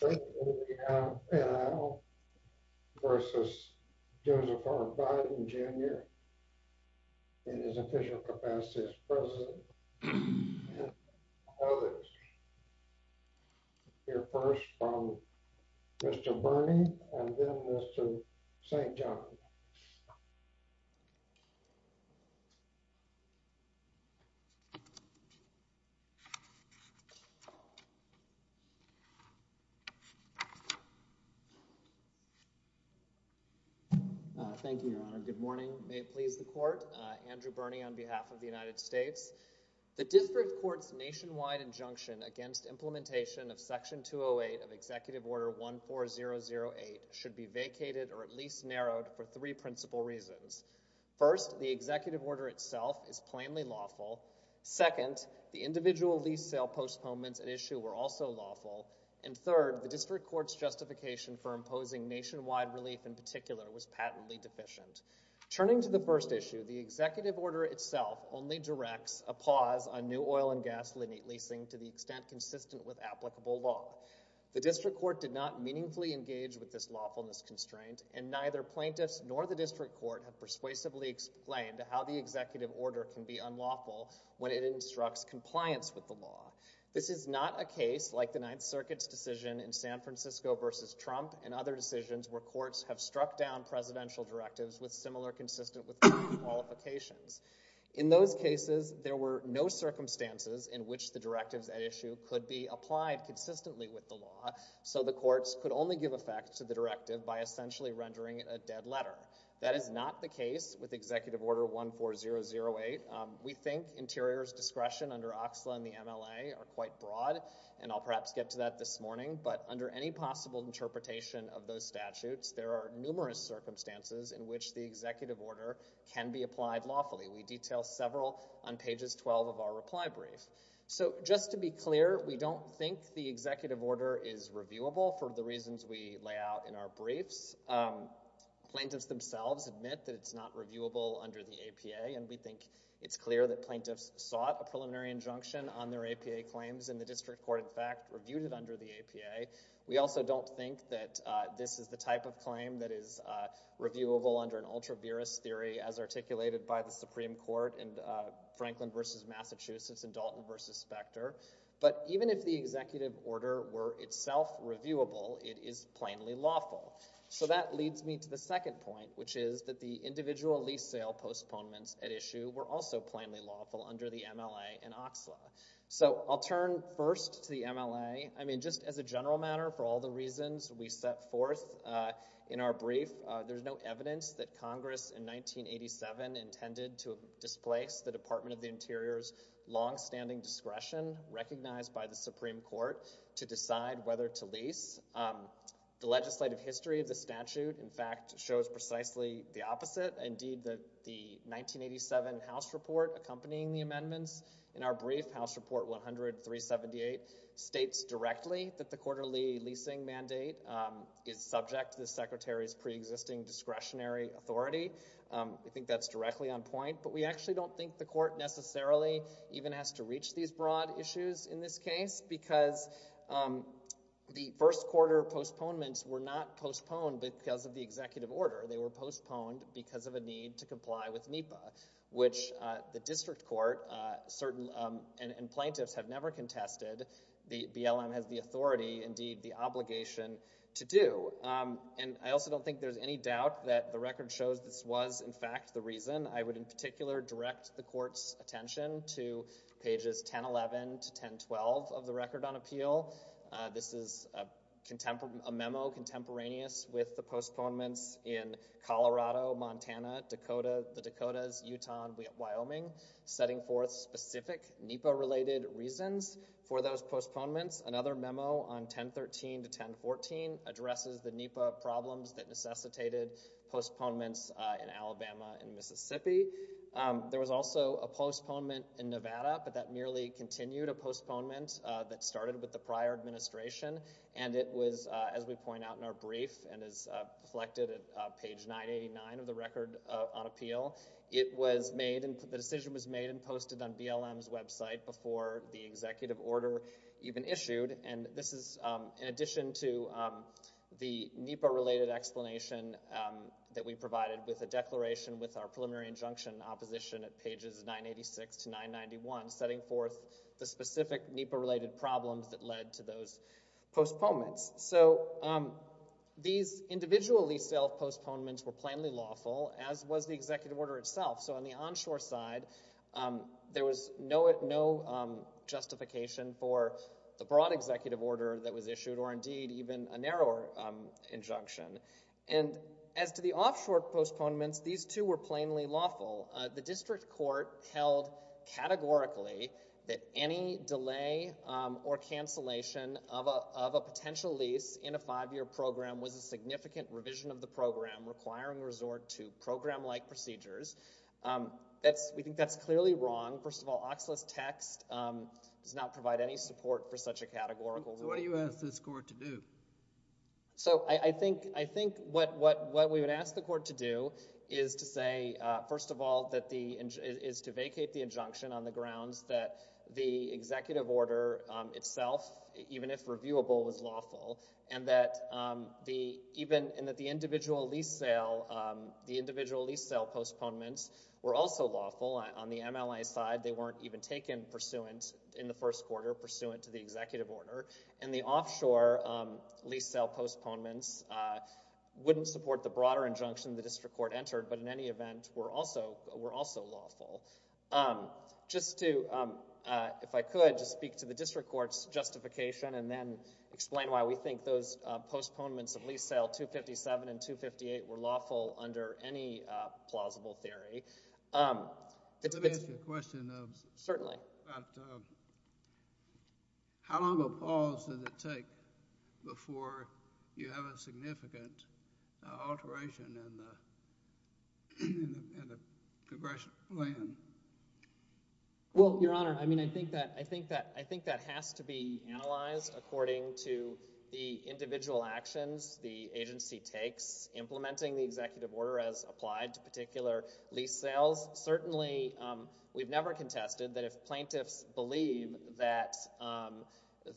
vs. Joseph R. Biden Jr. in his official capacity as president and others. Hear first from Mr. Bernie and then Mr. St. John. Thank you, Your Honor. Good morning. May it please the Court. Andrew Bernie on behalf of the United States. The District Court's nationwide injunction against implementation of Section 208 of Executive Order 14008 should be vacated or at least narrowed for three principal reasons. First, the Executive Order itself is plainly lawful. Second, the individual lease sale postponements at issue were also lawful. And third, the District Court's justification for imposing nationwide relief in particular was patently deficient. Turning to the first issue, the Executive Order itself only directs a pause on new oil and gas leasing to the extent consistent with applicable law. The District Court did not meaningfully engage with this lawfulness constraint, and neither plaintiffs nor the District Court have persuasively explained how the Executive Order can be unlawful when it instructs compliance with the law. This is not a case like the Ninth Circuit's decision in San Francisco v. Trump and other decisions where courts have struck down presidential directives with similar consistent with public qualifications. In those cases, there were no circumstances in which the directives at issue could be applied consistently with the law, so the courts could only give effect to the directive by essentially rendering it a dead letter. That is not the case with Executive Order 14008. We think Interior's discretion under OXLA and the MLA are quite broad, and I'll perhaps get to that this morning, but under any possible interpretation of those statutes, there are numerous circumstances in which the Executive Order can be applied lawfully. We detail several on pages 12 of our reply brief. Just to be clear, we don't think the Executive Order is reviewable for the reasons we lay out in our briefs. Plaintiffs themselves admit that it's not reviewable under the APA, and we think it's clear that plaintiffs sought a preliminary injunction on their APA claims, and the district court, in fact, reviewed it under the APA. We also don't think that this is the type of claim that is reviewable under an ultra-virus theory as articulated by the Supreme Court in Franklin v. Massachusetts and Dalton v. Specter, but even if the Executive Order were itself reviewable, it is plainly lawful. So that leads me to the second point, which is that the individual lease sale postponements at issue were also plainly lawful under the MLA and OXLA. So I'll turn first to the MLA. I mean, just as a general matter, for all the reasons we set forth in our brief, there's no evidence that Congress in 1987 intended to displace the Department of the Interior's longstanding discretion recognized by the Supreme Court to decide whether to lease. The legislative history of the statute, in fact, shows precisely the opposite. Indeed, the 1987 House report accompanying the amendments in our brief, House Report 100-378, states directly that the quarterly leasing mandate is subject to the Secretary's preexisting discretionary authority. We think that's directly on point, but we actually don't think the court necessarily even has to reach these broad issues in this case because the first quarter postponements were not postponed because of the Executive Order. They were postponed because of a need to comply with NEPA, which the district court and plaintiffs have never contested. The BLM has the authority, indeed the obligation, to do. And I also don't think there's any doubt that the record shows this was, in fact, the reason. I would, in particular, direct the court's attention to pages 1011 to 1012 of the record on appeal. This is a memo contemporaneous with the postponements in Colorado, Montana, Dakota, the Dakotas, Utah, and Wyoming, setting forth specific NEPA-related reasons for those postponements. Another memo on 1013 to 1014 addresses the NEPA problems that necessitated postponements in Alabama and Mississippi. There was also a postponement in Nevada, but that merely continued a postponement that started with the prior administration. And it was, as we point out in our brief and is reflected at page 989 of the record on appeal, it was made, the decision was made and posted on BLM's website before the executive order even issued. And this is in addition to the NEPA-related explanation that we provided with a declaration with our preliminary injunction opposition at pages 986 to 991, setting forth the specific NEPA-related problems that led to those postponements. So these individually self-postponements were plainly lawful, as was the executive order itself. So on the onshore side, there was no justification for the broad executive order that was issued or, indeed, even a narrower injunction. And as to the offshore postponements, these, too, were plainly lawful. The district court held categorically that any delay or cancellation of a potential lease in a five-year program was a significant revision of the program requiring resort to program-like procedures. We think that's clearly wrong. First of all, Oxley's text does not provide any support for such a categorical rule. So what do you ask this court to do? So I think what we would ask the court to do is to say, first of all, is to vacate the injunction on the grounds that the executive order itself, even if reviewable, was lawful, and that the individual lease sale postponements were also lawful. On the MLA side, they weren't even taken pursuant in the first quarter, pursuant to the executive order. And the offshore lease sale postponements wouldn't support the broader injunction the district court entered, but in any event were also lawful. Just to, if I could, just speak to the district court's justification and then explain why we think those postponements of lease sale 257 and 258 were lawful under any plausible theory. Let me ask you a question. Certainly. How long of a pause did it take before you have a significant alteration in the congressional plan? Well, Your Honor, I mean, I think that has to be analyzed according to the individual actions the agency takes implementing the executive order as applied to particular lease sales. Certainly, we've never contested that if plaintiffs believe that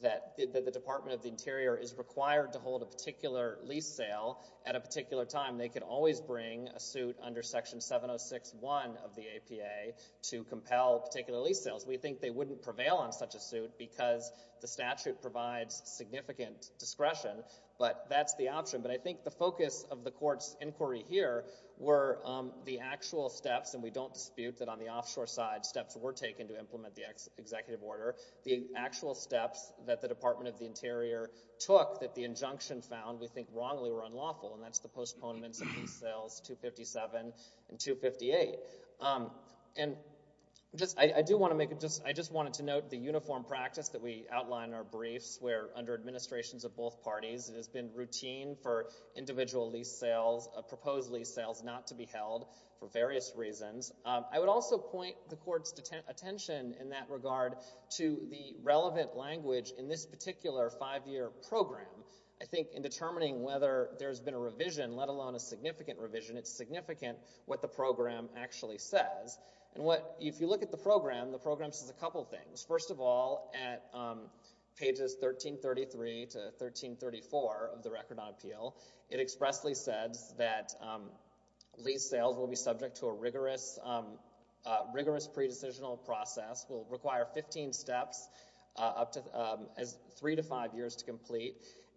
the Department of the Interior is required to hold a particular lease sale at a particular time, they can always bring a suit under Section 706.1 of the APA to compel particular lease sales. We think they wouldn't prevail on such a suit because the statute provides significant discretion, but that's the option. But I think the focus of the court's inquiry here were the actual steps, and we don't dispute that on the offshore side steps were taken to implement the executive order. The actual steps that the Department of the Interior took that the injunction found we think wrongly were unlawful, and that's the postponements of lease sales 257 and 258. And I do want to make, I just wanted to note the uniform practice that we outline in our briefs where under administrations of both parties, it has been routine for individual lease sales, proposed lease sales not to be held for various reasons. I would also point the court's attention in that regard to the relevant language in this particular five-year program. I think in determining whether there's been a revision, let alone a significant revision, it's significant what the program actually says. And if you look at the program, the program says a couple things. First of all, at pages 1333 to 1334 of the record on appeal, it expressly says that lease sales will be subject to a rigorous pre-decisional process, will require 15 steps, three to five years to complete,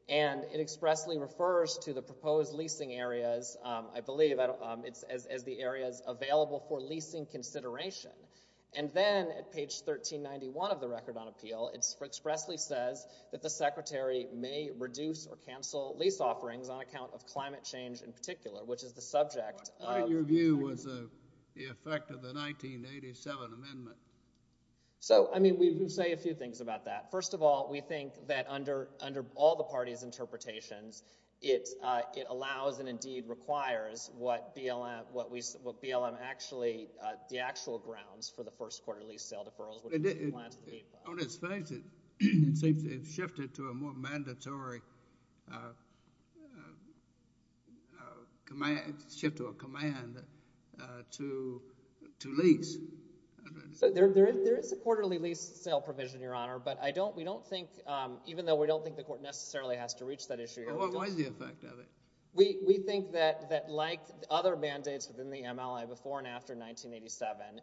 and it expressly refers to the proposed leasing areas, I believe, as the areas available for leasing consideration. And then at page 1391 of the record on appeal, it expressly says that the secretary may reduce or cancel lease offerings on account of climate change in particular, which is the subject of— Your view was the effect of the 1987 amendment. So, I mean, we say a few things about that. First of all, we think that under all the parties' interpretations, it allows and indeed requires what BLM actually—the actual grounds for the first quarter lease sale deferrals. On its face, it seems to have shifted to a more mandatory shift or command to lease. There is a quarterly lease sale provision, Your Honor, but I don't—we don't think— What was the effect of it? We think that like other mandates within the MLA before and after 1987—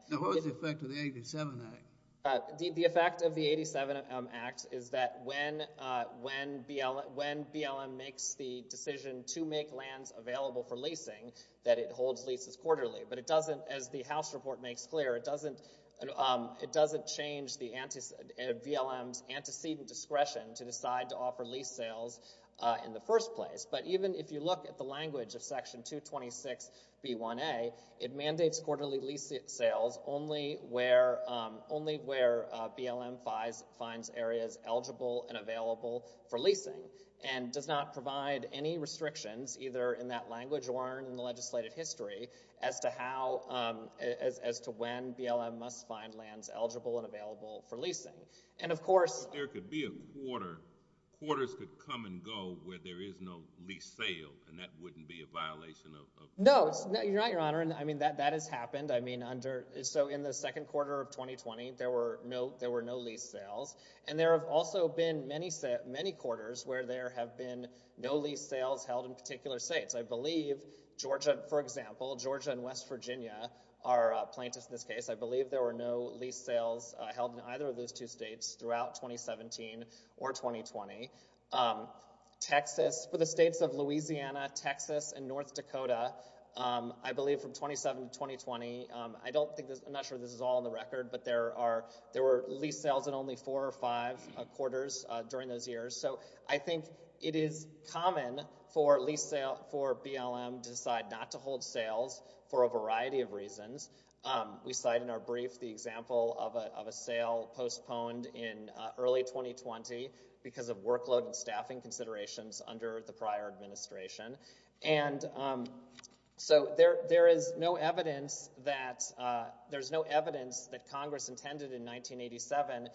Now, what was the effect of the 87 Act? The effect of the 87 Act is that when BLM makes the decision to make lands available for leasing, that it holds leases quarterly. But it doesn't, as the House report makes clear, it doesn't change BLM's antecedent discretion to decide to offer lease sales in the first place. But even if you look at the language of Section 226B1A, it mandates quarterly lease sales only where BLM finds areas eligible and available for leasing and does not provide any restrictions, either in that language or in the legislative history, as to how—as to when BLM must find lands eligible and available for leasing. And, of course— But there could be a quarter—quarters could come and go where there is no lease sale, and that wouldn't be a violation of— No, Your Honor. I mean, that has happened. I mean, under—so in the second quarter of 2020, there were no lease sales. And there have also been many quarters where there have been no lease sales held in particular states. I believe Georgia, for example, Georgia and West Virginia are plaintiffs in this case. I believe there were no lease sales held in either of those two states throughout 2017 or 2020. Texas—for the states of Louisiana, Texas, and North Dakota, I believe from 2007 to 2020, I don't think this—I'm not sure this is all in the record, but there are—there were lease sales in only four or five quarters during those years. So I think it is common for lease sale—for BLM to decide not to hold sales for a variety of reasons. We cite in our brief the example of a sale postponed in early 2020 because of workload and staffing considerations under the prior administration. And so there is no evidence that—there's no evidence that Congress intended in 1987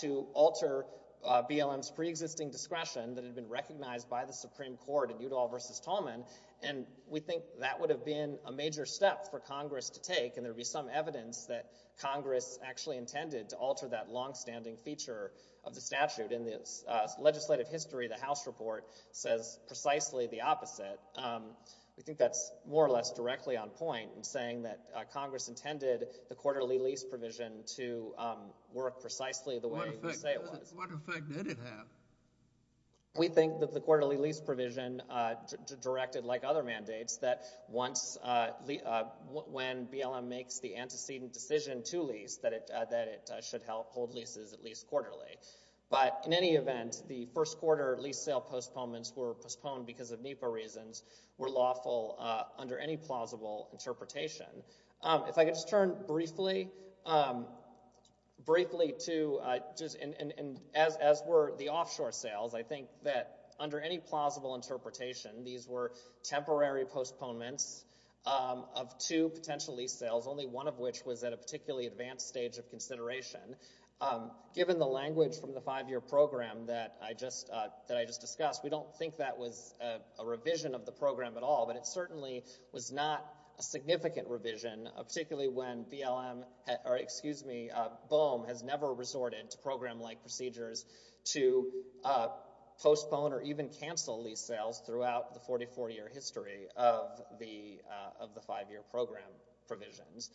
to alter BLM's preexisting discretion that had been recognized by the Supreme Court in Udall v. Tolman. And we think that would have been a major step for Congress to take, and there would be some evidence that Congress actually intended to alter that longstanding feature of the statute. In the legislative history, the House report says precisely the opposite. We think that's more or less directly on point in saying that Congress intended the quarterly lease provision to work precisely the way you say it was. What effect did it have? We think that the quarterly lease provision directed, like other mandates, that once—when BLM makes the antecedent decision to lease, that it should hold leases at least quarterly. But in any event, the first quarter lease sale postponements were postponed because of NEPA reasons, were lawful under any plausible interpretation. If I could just turn briefly to—and as were the offshore sales, I think that under any plausible interpretation, these were temporary postponements of two potential lease sales, only one of which was at a particularly advanced stage of consideration. Given the language from the five-year program that I just discussed, we don't think that was a revision of the program at all, but it certainly was not a significant revision, particularly when BLM—or excuse me, BOEM has never resorted to program-like procedures to postpone or even cancel lease sales throughout the 44-year history of the five-year program provisions.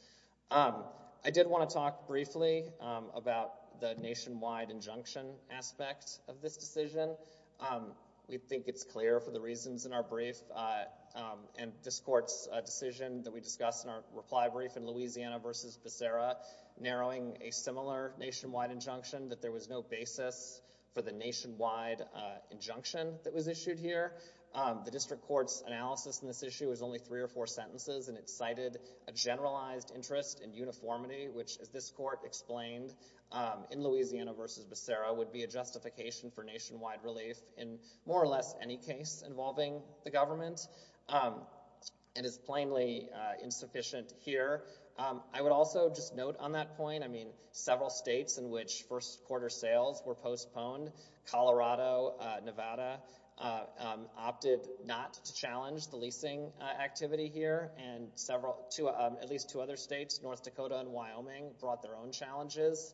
I did want to talk briefly about the nationwide injunction aspect of this decision. We think it's clear for the reasons in our brief and this court's decision that we discussed in our reply brief in Louisiana v. Becerra, narrowing a similar nationwide injunction, that there was no basis for the nationwide injunction that was issued here. The district court's analysis in this issue was only three or four sentences, and it cited a generalized interest in uniformity, which, as this court explained in Louisiana v. Becerra, would be a justification for nationwide relief in more or less any case involving the government. It is plainly insufficient here. I would also just note on that point, I mean, several states in which first-quarter sales were postponed— at least two other states, North Dakota and Wyoming—brought their own challenges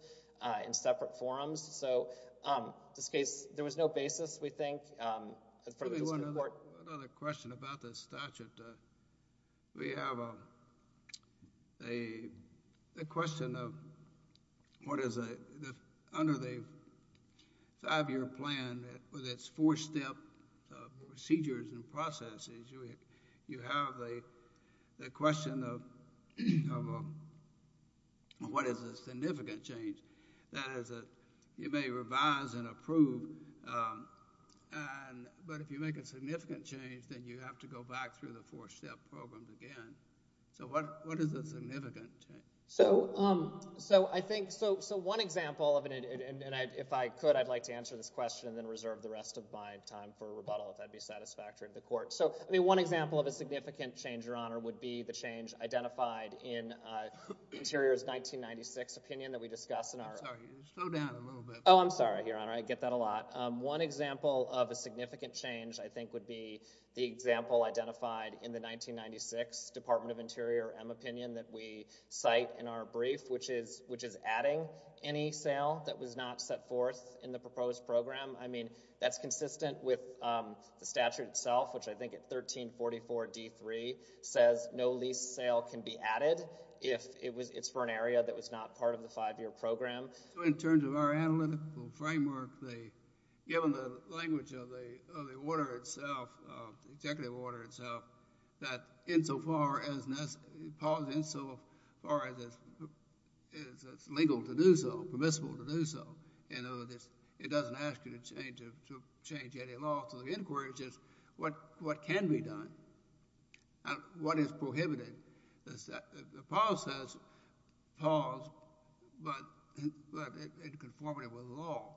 in separate forums. So, in this case, there was no basis, we think, for the district court— Another question about the statute. We have a question of what is under the five-year plan with its four-step procedures and processes. You have the question of what is a significant change. That is, you may revise and approve, but if you make a significant change, then you have to go back through the four-step program again. So, what is a significant change? So, one example—and if I could, I'd like to answer this question and then reserve the rest of my time for rebuttal if that would be satisfactory to the court. So, one example of a significant change, Your Honor, would be the change identified in Interior's 1996 opinion that we discussed in our— I'm sorry. Slow down a little bit. Oh, I'm sorry, Your Honor. I get that a lot. One example of a significant change, I think, would be the example identified in the 1996 Department of Interior M opinion that we cite in our brief, which is adding any sale that was not set forth in the proposed program. I mean, that's consistent with the statute itself, which I think at 1344d.3 says no lease sale can be added if it's for an area that was not part of the five-year program. In terms of our analytical framework, given the language of the executive order itself, that insofar as it's legal to do so, permissible to do so, it doesn't ask you to change any law. So, the inquiry is just what can be done and what is prohibited. The policy says pause, but it's conformative with the law.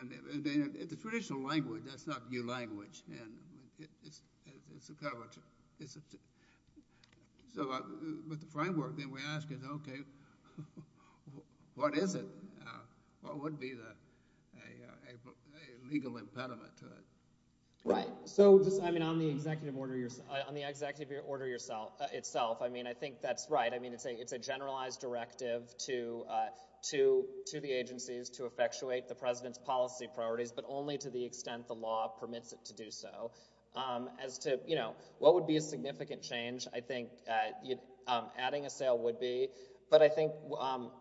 And in the traditional language, that's not new language, and it's a coverage. So, with the framework, then we ask, okay, what is it? What would be the legal impediment to it? Right. So, I mean, on the executive order itself, I mean, I think that's right. I mean, it's a generalized directive to the agencies to effectuate the president's policy priorities, but only to the extent the law permits it to do so. As to, you know, what would be a significant change, I think adding a sale would be. But I think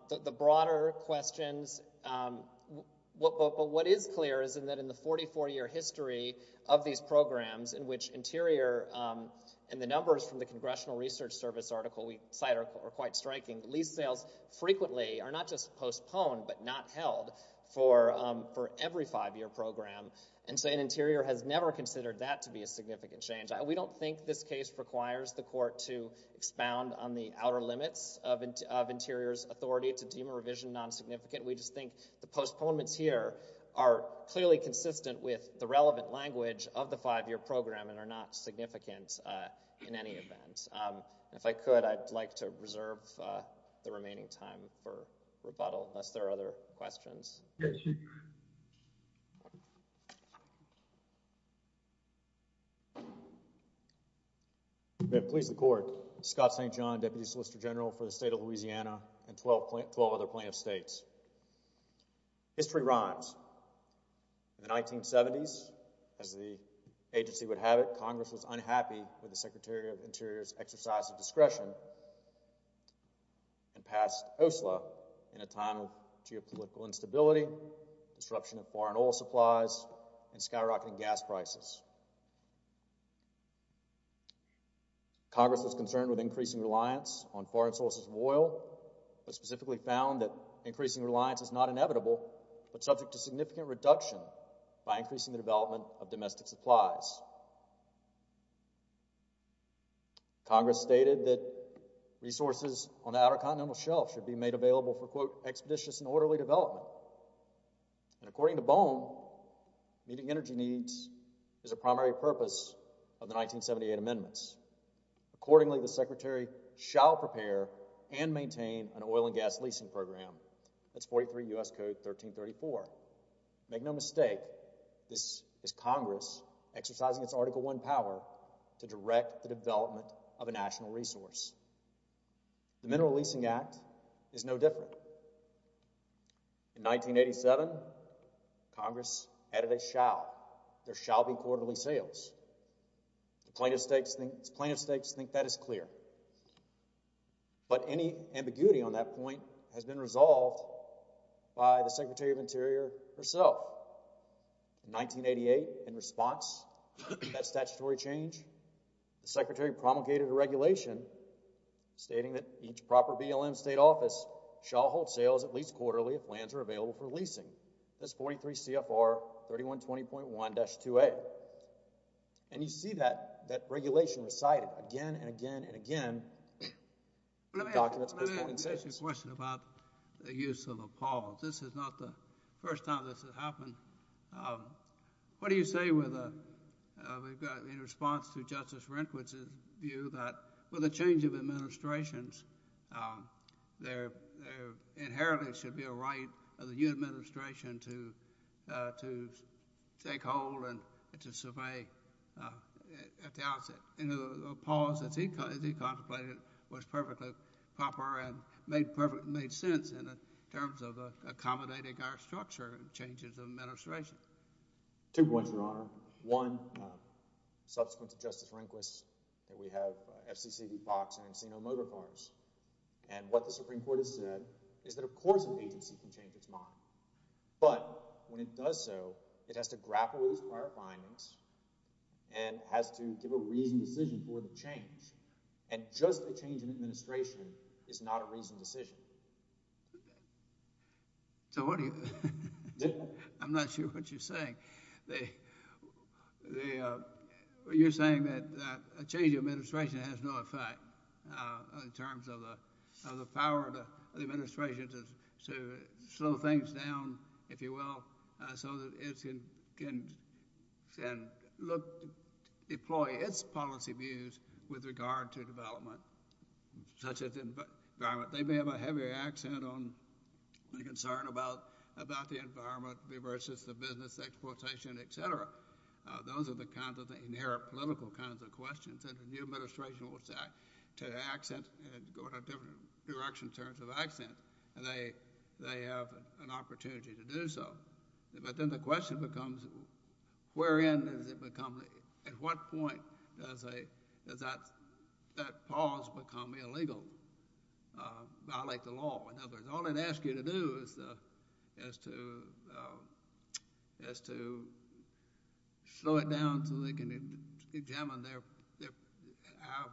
the broader questions, what is clear is that in the 44-year history of these programs, in which Interior and the numbers from the Congressional Research Service article we cite are quite striking, lease sales frequently are not just postponed but not held for every five-year program. And so Interior has never considered that to be a significant change. We don't think this case requires the court to expound on the outer limits of Interior's authority to deem a revision non-significant. We just think the postponements here are clearly consistent with the relevant language of the five-year program and are not significant in any event. Thanks. If I could, I'd like to reserve the remaining time for rebuttal unless there are other questions. Yes, sir. Please the court. Scott St. John, Deputy Solicitor General for the State of Louisiana and 12 other plaintiffs' states. History rhymes. In the 1970s, as the agency would have it, Congress was unhappy with the Secretary of Interior's exercise of discretion and passed OSLA in a time of geopolitical instability, disruption of foreign oil supplies, and skyrocketing gas prices. Congress was concerned with increasing reliance on foreign sources of oil but specifically found that increasing reliance is not inevitable but subject to significant reduction by increasing the development of domestic supplies. Congress stated that resources on the outer continental shelf should be made available for, quote, expeditious and orderly development. And according to Bohm, meeting energy needs is a primary purpose of the 1978 amendments. Accordingly, the Secretary shall prepare and maintain an oil and gas leasing program. That's 43 U.S. Code 1334. Make no mistake, this is Congress exercising its Article I power to direct the development of a national resource. The Mineral Leasing Act is no different. In 1987, Congress added a shall. There shall be quarterly sales. The plaintiffs' stakes think that is clear. But any ambiguity on that point has been resolved by the Secretary of Interior herself. In 1988, in response to that statutory change, the Secretary promulgated a regulation stating that each proper BLM state office shall hold sales at least quarterly if plans are available for leasing. That's 43 CFR 3120.1-2A. And you see that regulation recited again and again and again in the documents. Let me ask you a question about the use of appalls. This is not the first time this has happened. What do you say in response to Justice Rehnquist's view that with the change of administrations, there inherently should be a right of the new administration to take hold and to survey at the outset? And the appalls that he contemplated was perfectly proper and made sense in terms of accommodating our structure changes of administration. One, subsequent to Justice Rehnquist, we have FCC v. Fox and Encino Motorcars. And what the Supreme Court has said is that, of course, an agency can change its mind. But when it does so, it has to grapple with its prior findings and has to give a reasoned decision for the change. And just a change in administration is not a reasoned decision. I'm not sure what you're saying. You're saying that a change in administration has no effect in terms of the power of the administration to slow things down, if you will, so that it can deploy its policy views with regard to development, such as environment. They may have a heavier accent on the concern about the environment versus the business, exploitation, et cetera. Those are the kinds of the inerrant political kinds of questions. And the new administration will start to accent and go in a different direction in terms of accent. And they have an opportunity to do so. But then the question becomes, at what point does that pause become illegal, violate the law? In other words, all it asks you to do is to slow it down so they can examine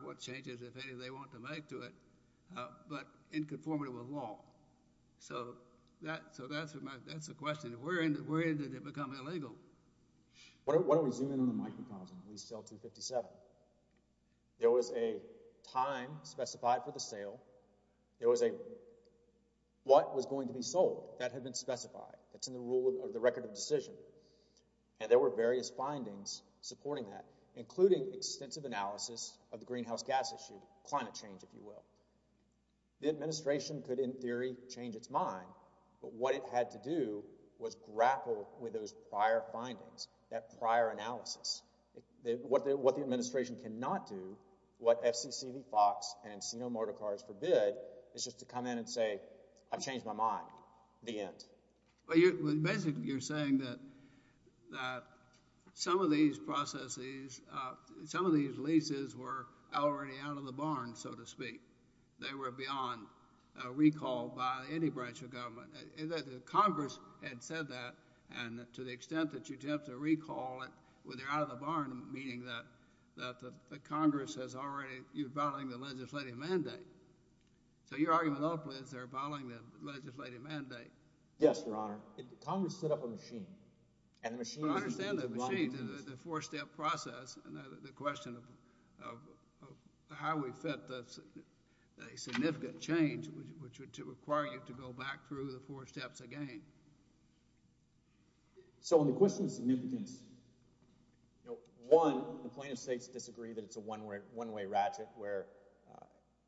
what changes, if any, they want to make to it, but in conformity with law. So that's the question. Where did it become illegal? Why don't we zoom in on the microcosm of lease sale 257? There was a time specified for the sale. There was a what was going to be sold that had been specified. That's in the rule of the record of decision. And there were various findings supporting that, including extensive analysis of the greenhouse gas issue, climate change, if you will. The administration could, in theory, change its mind. But what it had to do was grapple with those prior findings, that prior analysis. What the administration cannot do, what FCC v. Fox and Encino-Mortecar's forbid, is just to come in and say, I've changed my mind. The end. Well, basically, you're saying that some of these processes, some of these leases were already out of the barn, so to speak. They were beyond recall by any branch of government. The Congress had said that, and to the extent that you attempt to recall it when they're out of the barn, meaning that the Congress has already, you're violating the legislative mandate. So your argument ultimately is they're violating the legislative mandate. Yes, Your Honor. Congress set up a machine. I understand the machine, the four-step process, and the question of how we fit a significant change, which would require you to go back through the four steps again. So on the question of significance, one, the plaintiffs' states disagree that it's a one-way ratchet, where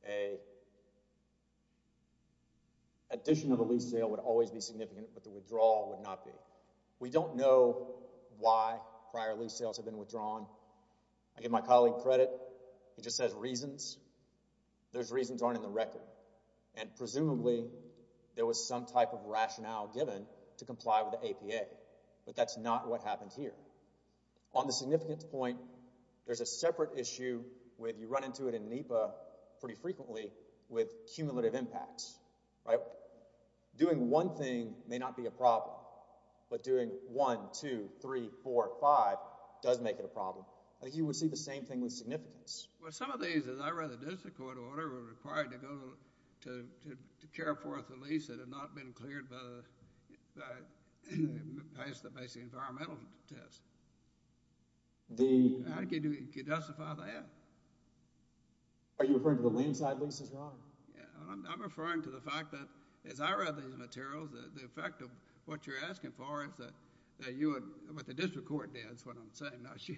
an addition of a lease sale would always be significant, but the withdrawal would not be. We don't know why prior lease sales have been withdrawn. I give my colleague credit. He just says reasons. Those reasons aren't in the record, and presumably there was some type of rationale given to comply with the APA, but that's not what happened here. On the significance point, there's a separate issue where you run into it in NEPA pretty frequently with cumulative impacts. Doing one thing may not be a problem, but doing one, two, three, four, five does make it a problem. I think you would see the same thing with significance. Well, some of these, as I read the district court order, were required to go to care for the lease that had not been cleared by the basic environmental test. How can you justify that? Are you referring to the land side leases, Your Honor? I'm referring to the fact that, as I read these materials, the effect of what you're asking for is what the district court did. That's what I'm saying, not you.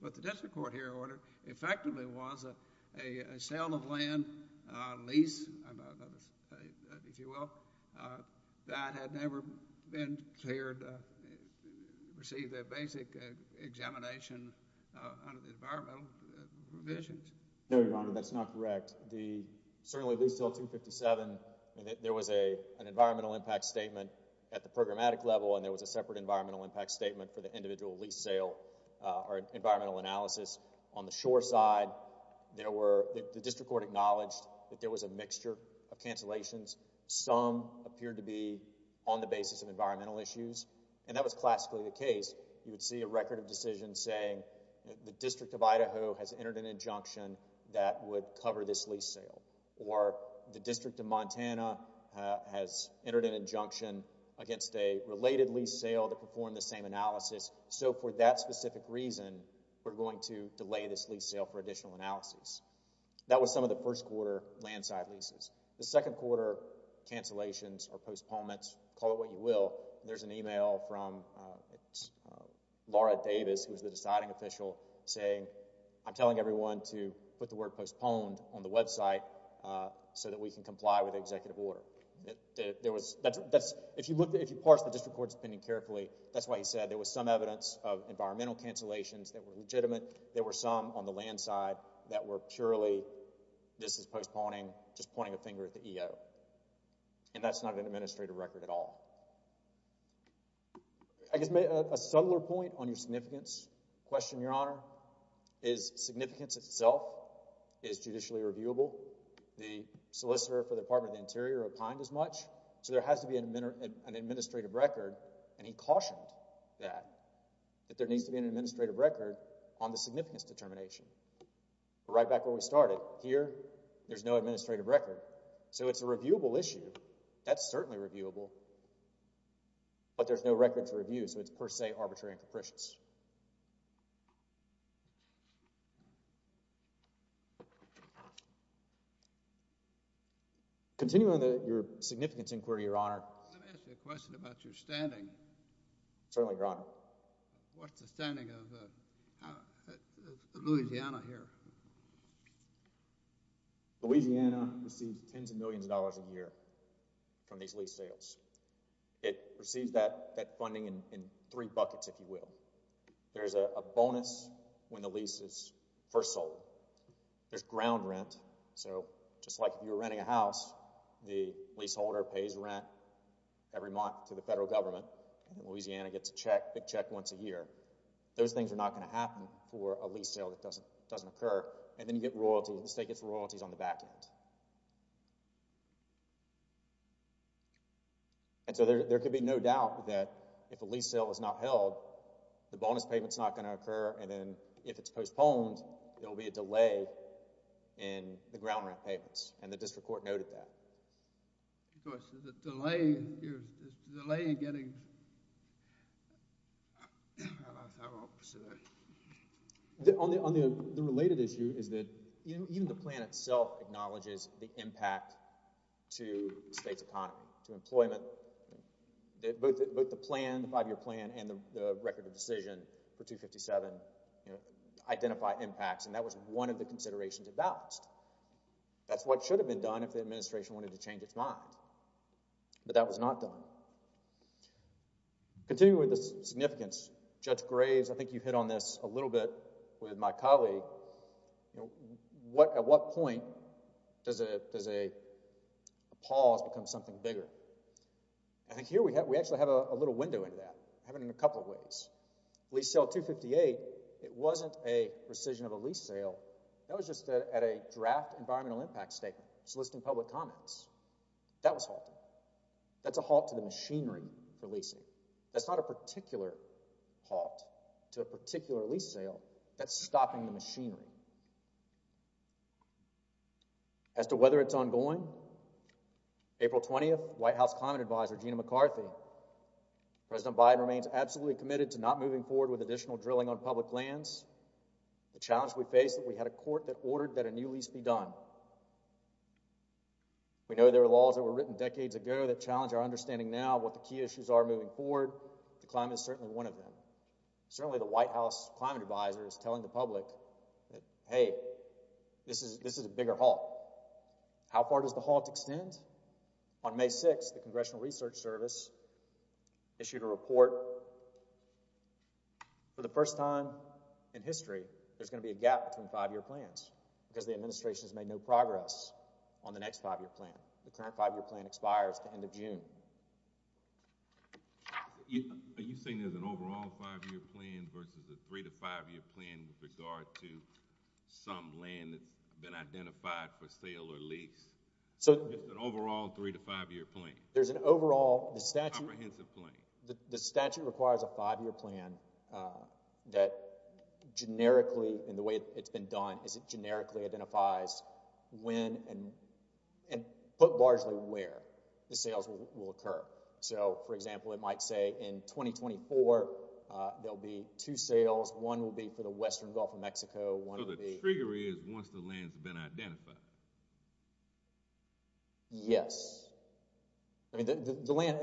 What the district court here ordered effectively was a sale of land lease, if you will, that had never been cleared, received a basic examination under the environmental provisions. No, Your Honor, that's not correct. Certainly, lease sale 257, there was an environmental impact statement at the programmatic level, and there was a separate environmental impact statement for the individual lease sale or environmental analysis. On the shore side, the district court acknowledged that there was a mixture of cancellations. Some appeared to be on the basis of environmental issues, and that was classically the case. You would see a record of decision saying the District of Idaho has entered an injunction that would cover this lease sale, or the District of Montana has entered an injunction against a related lease sale that performed the same analysis. So, for that specific reason, we're going to delay this lease sale for additional analysis. That was some of the first quarter land side leases. The second quarter cancellations or postponements, call it what you will, there's an email from Laura Davis, who was the deciding official, saying, I'm telling everyone to put the word postponed on the website so that we can comply with the executive order. If you parse the district court's opinion carefully, that's why he said there was some evidence of environmental cancellations that were legitimate. There were some on the land side that were purely, this is postponing, just pointing a finger at the EO. And that's not an administrative record at all. I guess a subtler point on your significance question, Your Honor, is significance itself is judicially reviewable. The solicitor for the Department of the Interior opined as much, so there has to be an administrative record, and he cautioned that, that there needs to be an administrative record on the significance determination. Right back where we started, here, there's no administrative record, so it's a reviewable issue. That's certainly reviewable, but there's no record to review, so it's per se arbitrary and capricious. Continuing on your significance inquiry, Your Honor. Let me ask you a question about your standing. Certainly, Your Honor. What's the standing of Louisiana here? Louisiana receives tens of millions of dollars a year from these lease sales. It receives that funding in three buckets, if you will. There's a bonus when the lease is first sold. There's ground rent, so just like if you were renting a house, the leaseholder pays rent every month to the federal government, and Louisiana gets a big check once a year. Those things are not going to happen for a lease sale that doesn't occur, and then you get royalties, the state gets royalties on the back end. And so there could be no doubt that if a lease sale is not held, the bonus payment's not going to occur, and then if it's postponed, there'll be a delay in the ground rent payments, and the district court noted that. The delay in getting... On the related issue is that even the plan itself acknowledges the impact to the state's economy, to employment. Both the plan, the five-year plan, and the record of decision for 257 identify impacts, and that was one of the considerations of that list. That's what should have been done if the administration wanted to change its mind, but that was not done. Continuing with the significance, Judge Graves, I think you hit on this a little bit with my colleague, at what point does a pause become something bigger? I think here we actually have a little window into that. I have it in a couple of ways. Lease sale 258, it wasn't a rescission of a lease sale. That was just at a draft environmental impact statement soliciting public comments. That was halted. That's a halt to the machinery for leasing. That's not a particular halt to a particular lease sale. That's stopping the machinery. As to whether it's ongoing, April 20th, White House Climate Advisor Gina McCarthy, President Biden remains absolutely committed to not moving forward with additional drilling on public lands. The challenge we face is that we had a court that ordered that a new lease be done. We know there are laws that were written decades ago that challenge our understanding now of what the key issues are moving forward. The climate is certainly one of them. Certainly the White House Climate Advisor is telling the public, hey, this is a bigger halt. How far does the halt extend? On May 6th, the Congressional Research Service issued a report. For the first time in history, there's going to be a gap between five-year plans because the administration has made no progress on the next five-year plan. The current five-year plan expires at the end of June. Are you saying there's an overall five-year plan versus a three-to-five-year plan with regard to some land that's been identified for sale or lease? Just an overall three-to-five-year plan. There's an overall. Comprehensive plan. The statute requires a five-year plan that generically, in the way it's been done, is it generically identifies when and, but largely where, the sales will occur. So, for example, it might say in 2024, there'll be two sales. One will be for the western Gulf of Mexico. So the trigger is once the land's been identified. Yes. I mean, the land,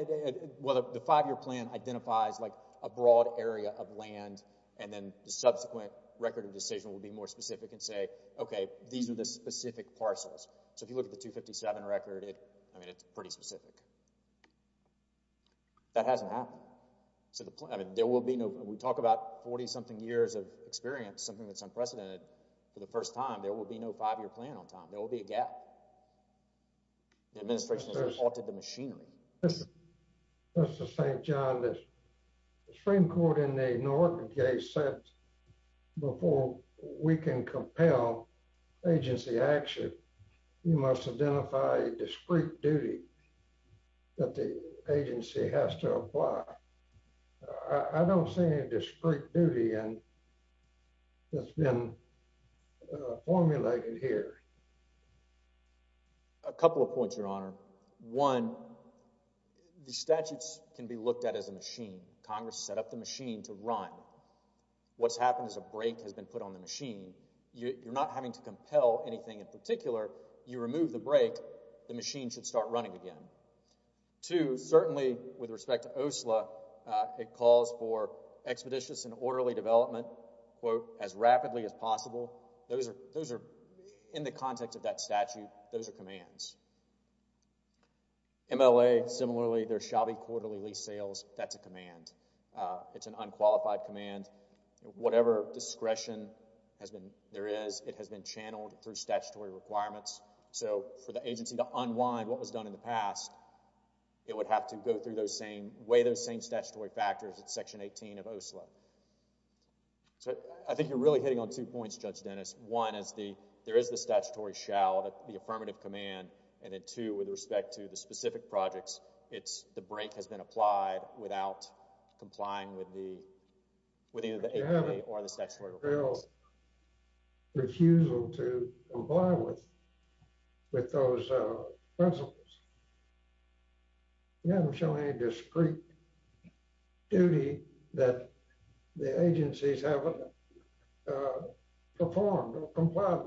well, the five-year plan identifies, like, a broad area of land and then the subsequent record of decision will be more specific and say, okay, these are the specific parcels. So if you look at the 257 record, I mean, it's pretty specific. That hasn't happened. So the plan, I mean, there will be no, we talk about 40-something years of experience, something that's unprecedented. For the first time, there will be no five-year plan on time. There will be a gap. The administration has reported the machinery. Mr. St. John, the Supreme Court in the Newark case said, before we can compel agency action, you must identify a discrete duty that the agency has to apply. I don't see any discrete duty that's been formulated here. A couple of points, Your Honor. One, the statutes can be looked at as a machine. Congress set up the machine to run. What's happened is a brake has been put on the machine. You're not having to compel anything in particular. You remove the brake, the machine should start running again. Two, certainly with respect to OSLA, it calls for expeditious and orderly development, quote, as rapidly as possible. Those are, in the context of that statute, those are commands. MLA, similarly, there's shoddy quarterly lease sales. That's a command. It's an unqualified command. Whatever discretion there is, it has been channeled through statutory requirements. So, for the agency to unwind what was done in the past, it would have to weigh those same statutory factors. It's Section 18 of OSLA. So, I think you're really hitting on two points, Judge Dennis. One, there is the statutory shall, the affirmative command. And then, two, with respect to the specific projects, the brake has been applied without complying with either the APA or the statutory requirements. You haven't revealed refusal to comply with those principles. You haven't shown any discreet duty that the agencies haven't performed or complied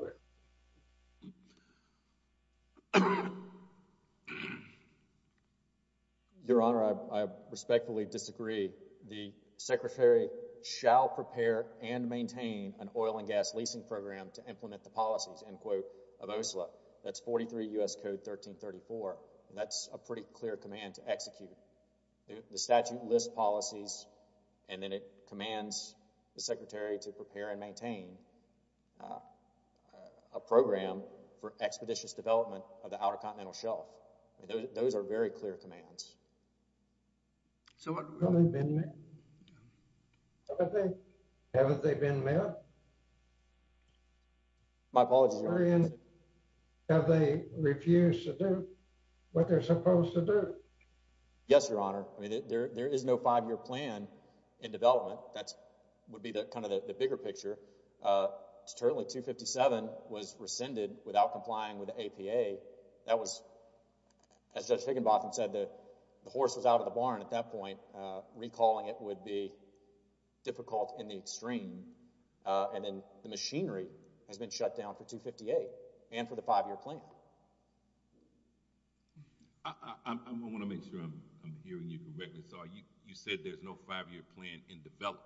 with. Your Honor, I respectfully disagree. The Secretary shall prepare and maintain an oil and gas leasing program to implement the policies, end quote, of OSLA. That's 43 U.S. Code 1334. That's a pretty clear command to execute. The statute lists policies, and then it commands the Secretary to prepare and maintain a program for expeditious development of the Outer Continental Shelf. Those are very clear commands. My apologies, Your Honor. Have they refused to do what they're supposed to do? Yes, Your Honor. I mean, there is no five-year plan in development. That would be kind of the bigger picture. Certainly, 257 was rescinded without complying with the APA. That was, as Judge Higginbotham said, the horse was out of the barn at that point. Recalling it would be difficult in the extreme. The machinery has been shut down for 258 and for the five-year plan. I want to make sure I'm hearing you correctly. You said there's no five-year plan in development.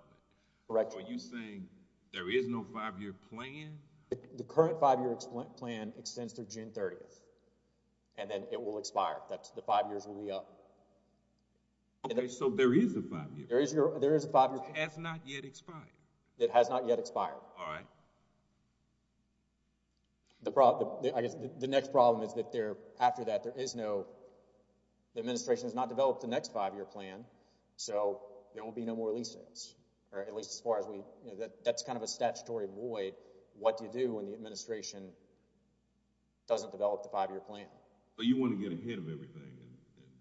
Correct, Your Honor. Are you saying there is no five-year plan? The current five-year plan extends through June 30th, and then it will expire. The five years will be up. Okay, so there is a five-year plan. There is a five-year plan. It has not yet expired. It has not yet expired. All right. The next problem is that after that, the administration has not developed the next five-year plan, so there will be no more lease sales. That's kind of a statutory void. What do you do when the administration doesn't develop the five-year plan? You want to get ahead of everything.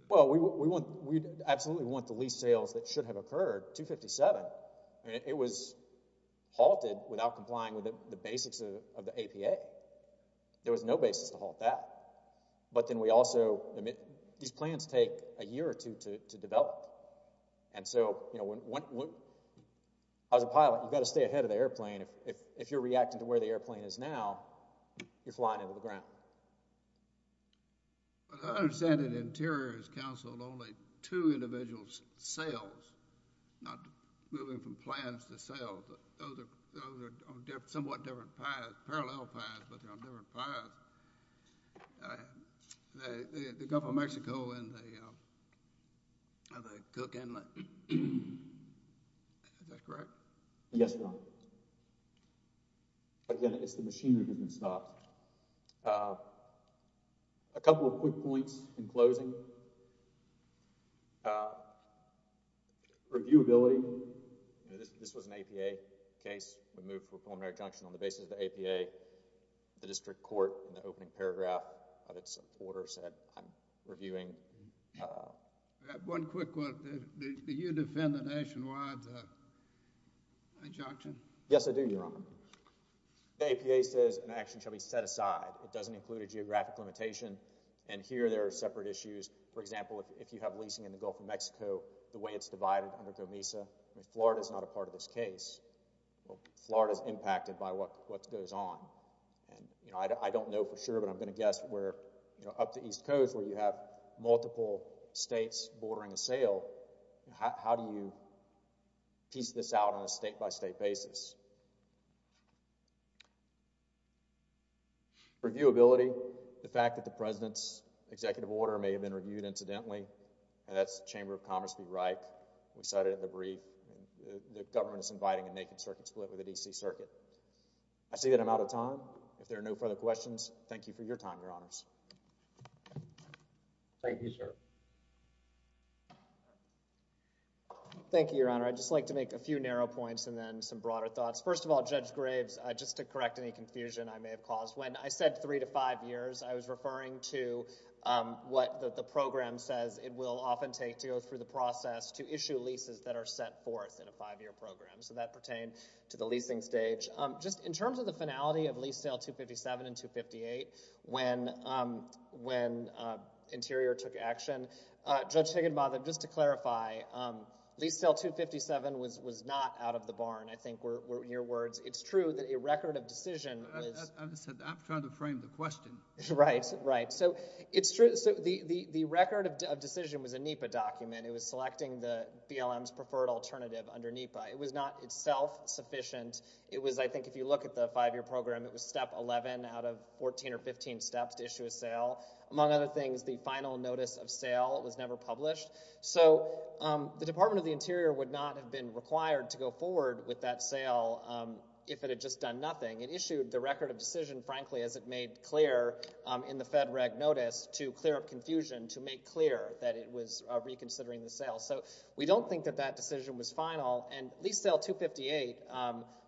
Well, we absolutely want the lease sales that should have occurred, 257. It was halted without complying with the basics of the APA. There was no basis to halt that. But then we also—these plans take a year or two to develop. As a pilot, you've got to stay ahead of the airplane. If you're reacting to where the airplane is now, you're flying into the ground. I understand that Interior has counseled only two individual sales, not moving from plans to sales. Those are on somewhat different paths, parallel paths, but they're on different paths. The Gulf of Mexico and the Cook Inlet. Is that correct? Yes, Your Honor. Again, it's the machinery that's been stopped. A couple of quick points in closing. Reviewability. This was an APA case. We moved for a preliminary injunction on the basis of the APA. The district court, in the opening paragraph of its order, said, I'm reviewing. One quick one. Yes, I do, Your Honor. The APA says an action shall be set aside. It doesn't include a geographic limitation. Here, there are separate issues. For example, if you have leasing in the Gulf of Mexico, the way it's divided under COMISA, Florida's not a part of this case. Florida's impacted by what goes on. I don't know for sure, but I'm going to guess up the East Coast, where you have multiple states bordering a sale, how do you piece this out on a state-by-state basis? Reviewability. The fact that the President's executive order may have been reviewed, incidentally, and that's Chamber of Commerce v. Reich. We cited it in the brief. The government is inviting a naked circuit split with the D.C. Circuit. I see that I'm out of time. If there are no further questions, thank you for your time, Your Honors. Thank you, sir. Thank you, Your Honor. I'd just like to make a few narrow points and then some broader thoughts. First of all, Judge Graves, just to correct any confusion I may have caused, when I said three to five years, I was referring to what the program says it will often take to go through the process to issue leases that are set forth in a five-year program. So that pertained to the leasing stage. Just in terms of the finality of lease sale 257 and 258, when Interior took action, Judge Higginbotham, just to clarify, lease sale 257 was not out of the barn. I think, in your words, it's true that a record of decision was... I'm trying to frame the question. Right, right. So the record of decision was a NEPA document. It was selecting the BLM's preferred alternative under NEPA. It was not itself sufficient. It was, I think, if you look at the five-year program, it was step 11 out of 14 or 15 steps to issue a sale. Among other things, the final notice of sale was never published. So the Department of the Interior would not have been required to go forward with that sale if it had just done nothing. It issued the record of decision, frankly, as it made clear in the Fed Reg Notice to clear up confusion, to make clear that it was reconsidering the sale. So we don't think that that decision was final. And lease sale 258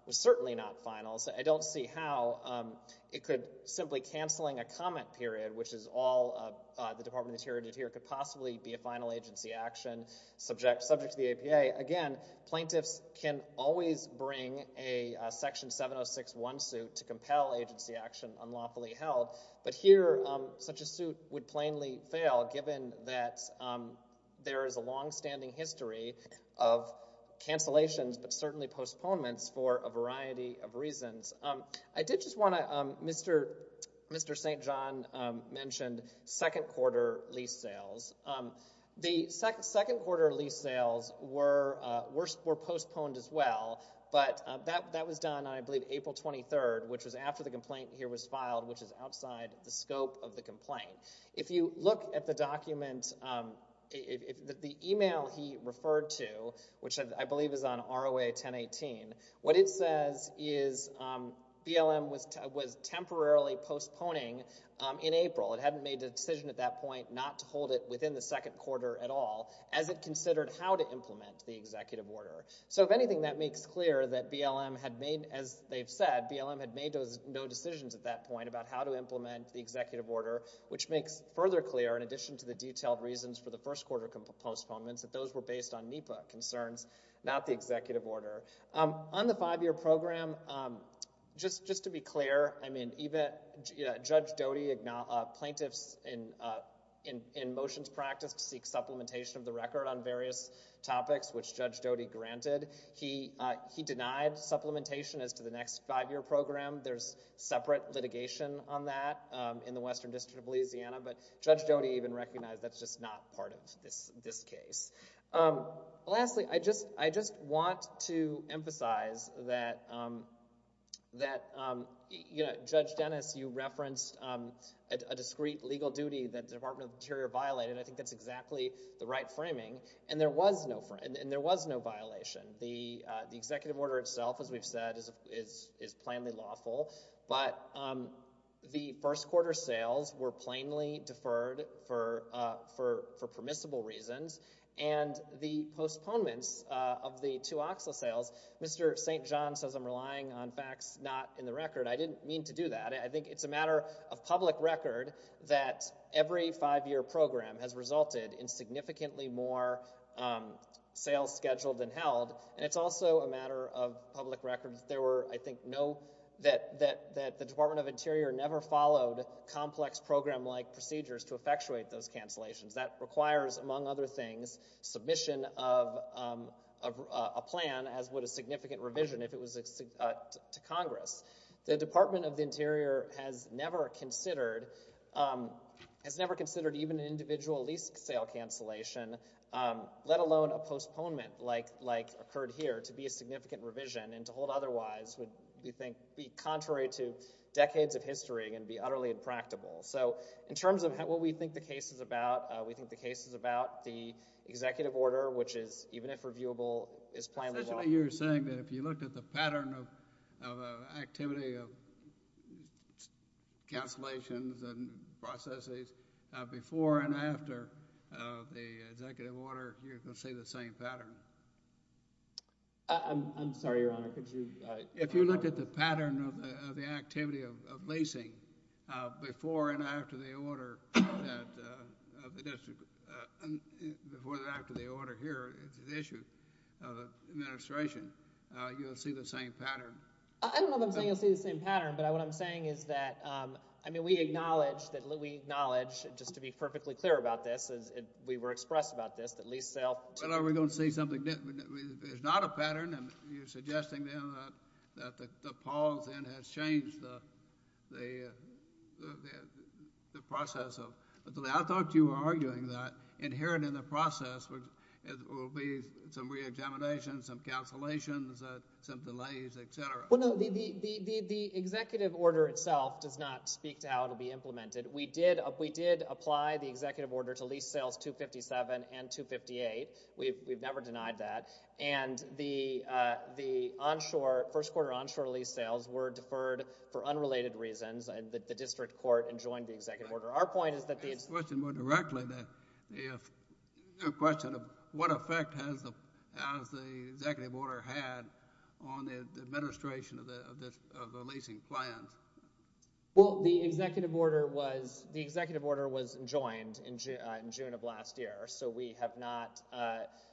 was certainly not final. I don't see how it could... Simply canceling a comment period, which is all the Department of the Interior did here, could possibly be a final agency action subject to the APA. Again, plaintiffs can always bring a Section 706-1 suit to compel agency action unlawfully held, but here such a suit would plainly fail given that there is a long-standing history of cancellations but certainly postponements for a variety of reasons. I did just want to... Mr. St. John mentioned second-quarter lease sales. The second-quarter lease sales were postponed as well, but that was done, I believe, April 23rd, which was after the complaint here was filed, which is outside the scope of the complaint. If you look at the document, the email he referred to, which I believe is on ROA 1018, what it says is BLM was temporarily postponing in April. It hadn't made a decision at that point not to hold it within the second quarter at all as it considered how to implement the executive order. So if anything, that makes clear that BLM had made... As they've said, BLM had made no decisions at that point about how to implement the executive order, which makes further clear, in addition to the detailed reasons for the first-quarter postponements, that those were based on NEPA concerns, not the executive order. On the five-year program, just to be clear, Judge Doty, plaintiffs in motions practice seek supplementation of the record on various topics, which Judge Doty granted. He denied supplementation as to the next five-year program. There's separate litigation on that in the Western District of Louisiana, but Judge Doty even recognized that's just not part of this case. Lastly, I just want to emphasize that, you know, Judge Dennis, you referenced a discreet legal duty that the Department of the Interior violated. I think that's exactly the right framing, and there was no violation. The executive order itself, as we've said, is plainly lawful, but the first-quarter sales were plainly deferred for permissible reasons, and the postponements of the two OXLA sales, Mr. St. John says I'm relying on facts not in the record. I didn't mean to do that. I think it's a matter of public record that every five-year program has resulted in significantly more sales scheduled than held, and it's also a matter of public record that there were, I think, no... that the Department of Interior never followed complex program-like procedures to effectuate those cancellations. That requires, among other things, submission of a plan as would a significant revision if it was to Congress. The Department of the Interior has never considered... has never considered even an individual lease sale cancellation, let alone a postponement like occurred here to be a significant revision and to hold otherwise would, we think, be contrary to decades of history and be utterly impractical. So in terms of what we think the case is about, we think the case is about the executive order, which is, even if reviewable, is planned... You're saying that if you looked at the pattern of activity of cancellations and processes before and after the executive order, you're going to see the same pattern? I'm sorry, Your Honor, could you... If you looked at the pattern of the activity of leasing before and after the order of the district... before and after the order here, the issue of administration, you'll see the same pattern. I don't know if I'm saying you'll see the same pattern, but what I'm saying is that... I mean, we acknowledge, just to be perfectly clear about this, as we were expressed about this, that lease sale... But are we going to see something different? It's not a pattern. You're suggesting, then, that the pause, then, has changed the process of... I thought you were arguing that inherent in the process will be some reexamination, some cancellations, some delays, etc. Well, no, the executive order itself does not speak to how it will be implemented. We did apply the executive order to lease sales 257 and 258. We've never denied that. And the onshore... first-quarter onshore lease sales were deferred for unrelated reasons. The district court enjoined the executive order. Our point is that the... To ask the question more directly, the question of what effect has the executive order had on the administration of the leasing plans. Well, the executive order was... The executive order was enjoined in June of last year, so we have not...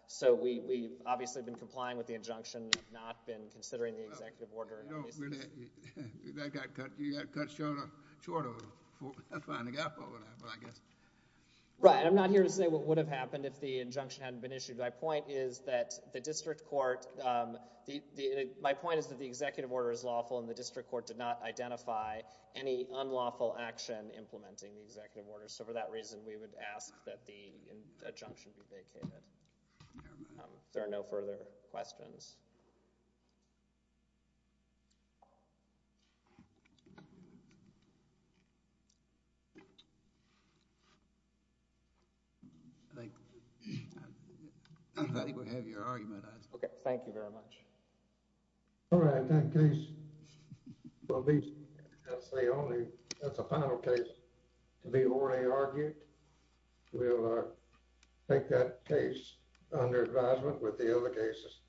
So we've obviously been complying with the injunction, not been considering the executive order. No, we're not. That got cut... You got cut short of it. That's fine. They got over that, but I guess... Right. I'm not here to say what would have happened if the injunction hadn't been issued. My point is that the district court... My point is that the executive order is lawful, and the district court did not identify any unlawful action implementing the executive order. So for that reason, we would ask that the injunction be vacated. If there are no further questions. I think... I think we have your argument. Okay, thank you very much. All right, that case will be, I'll say only, that's a final case to be already argued. We'll take that case under advisement with the other cases.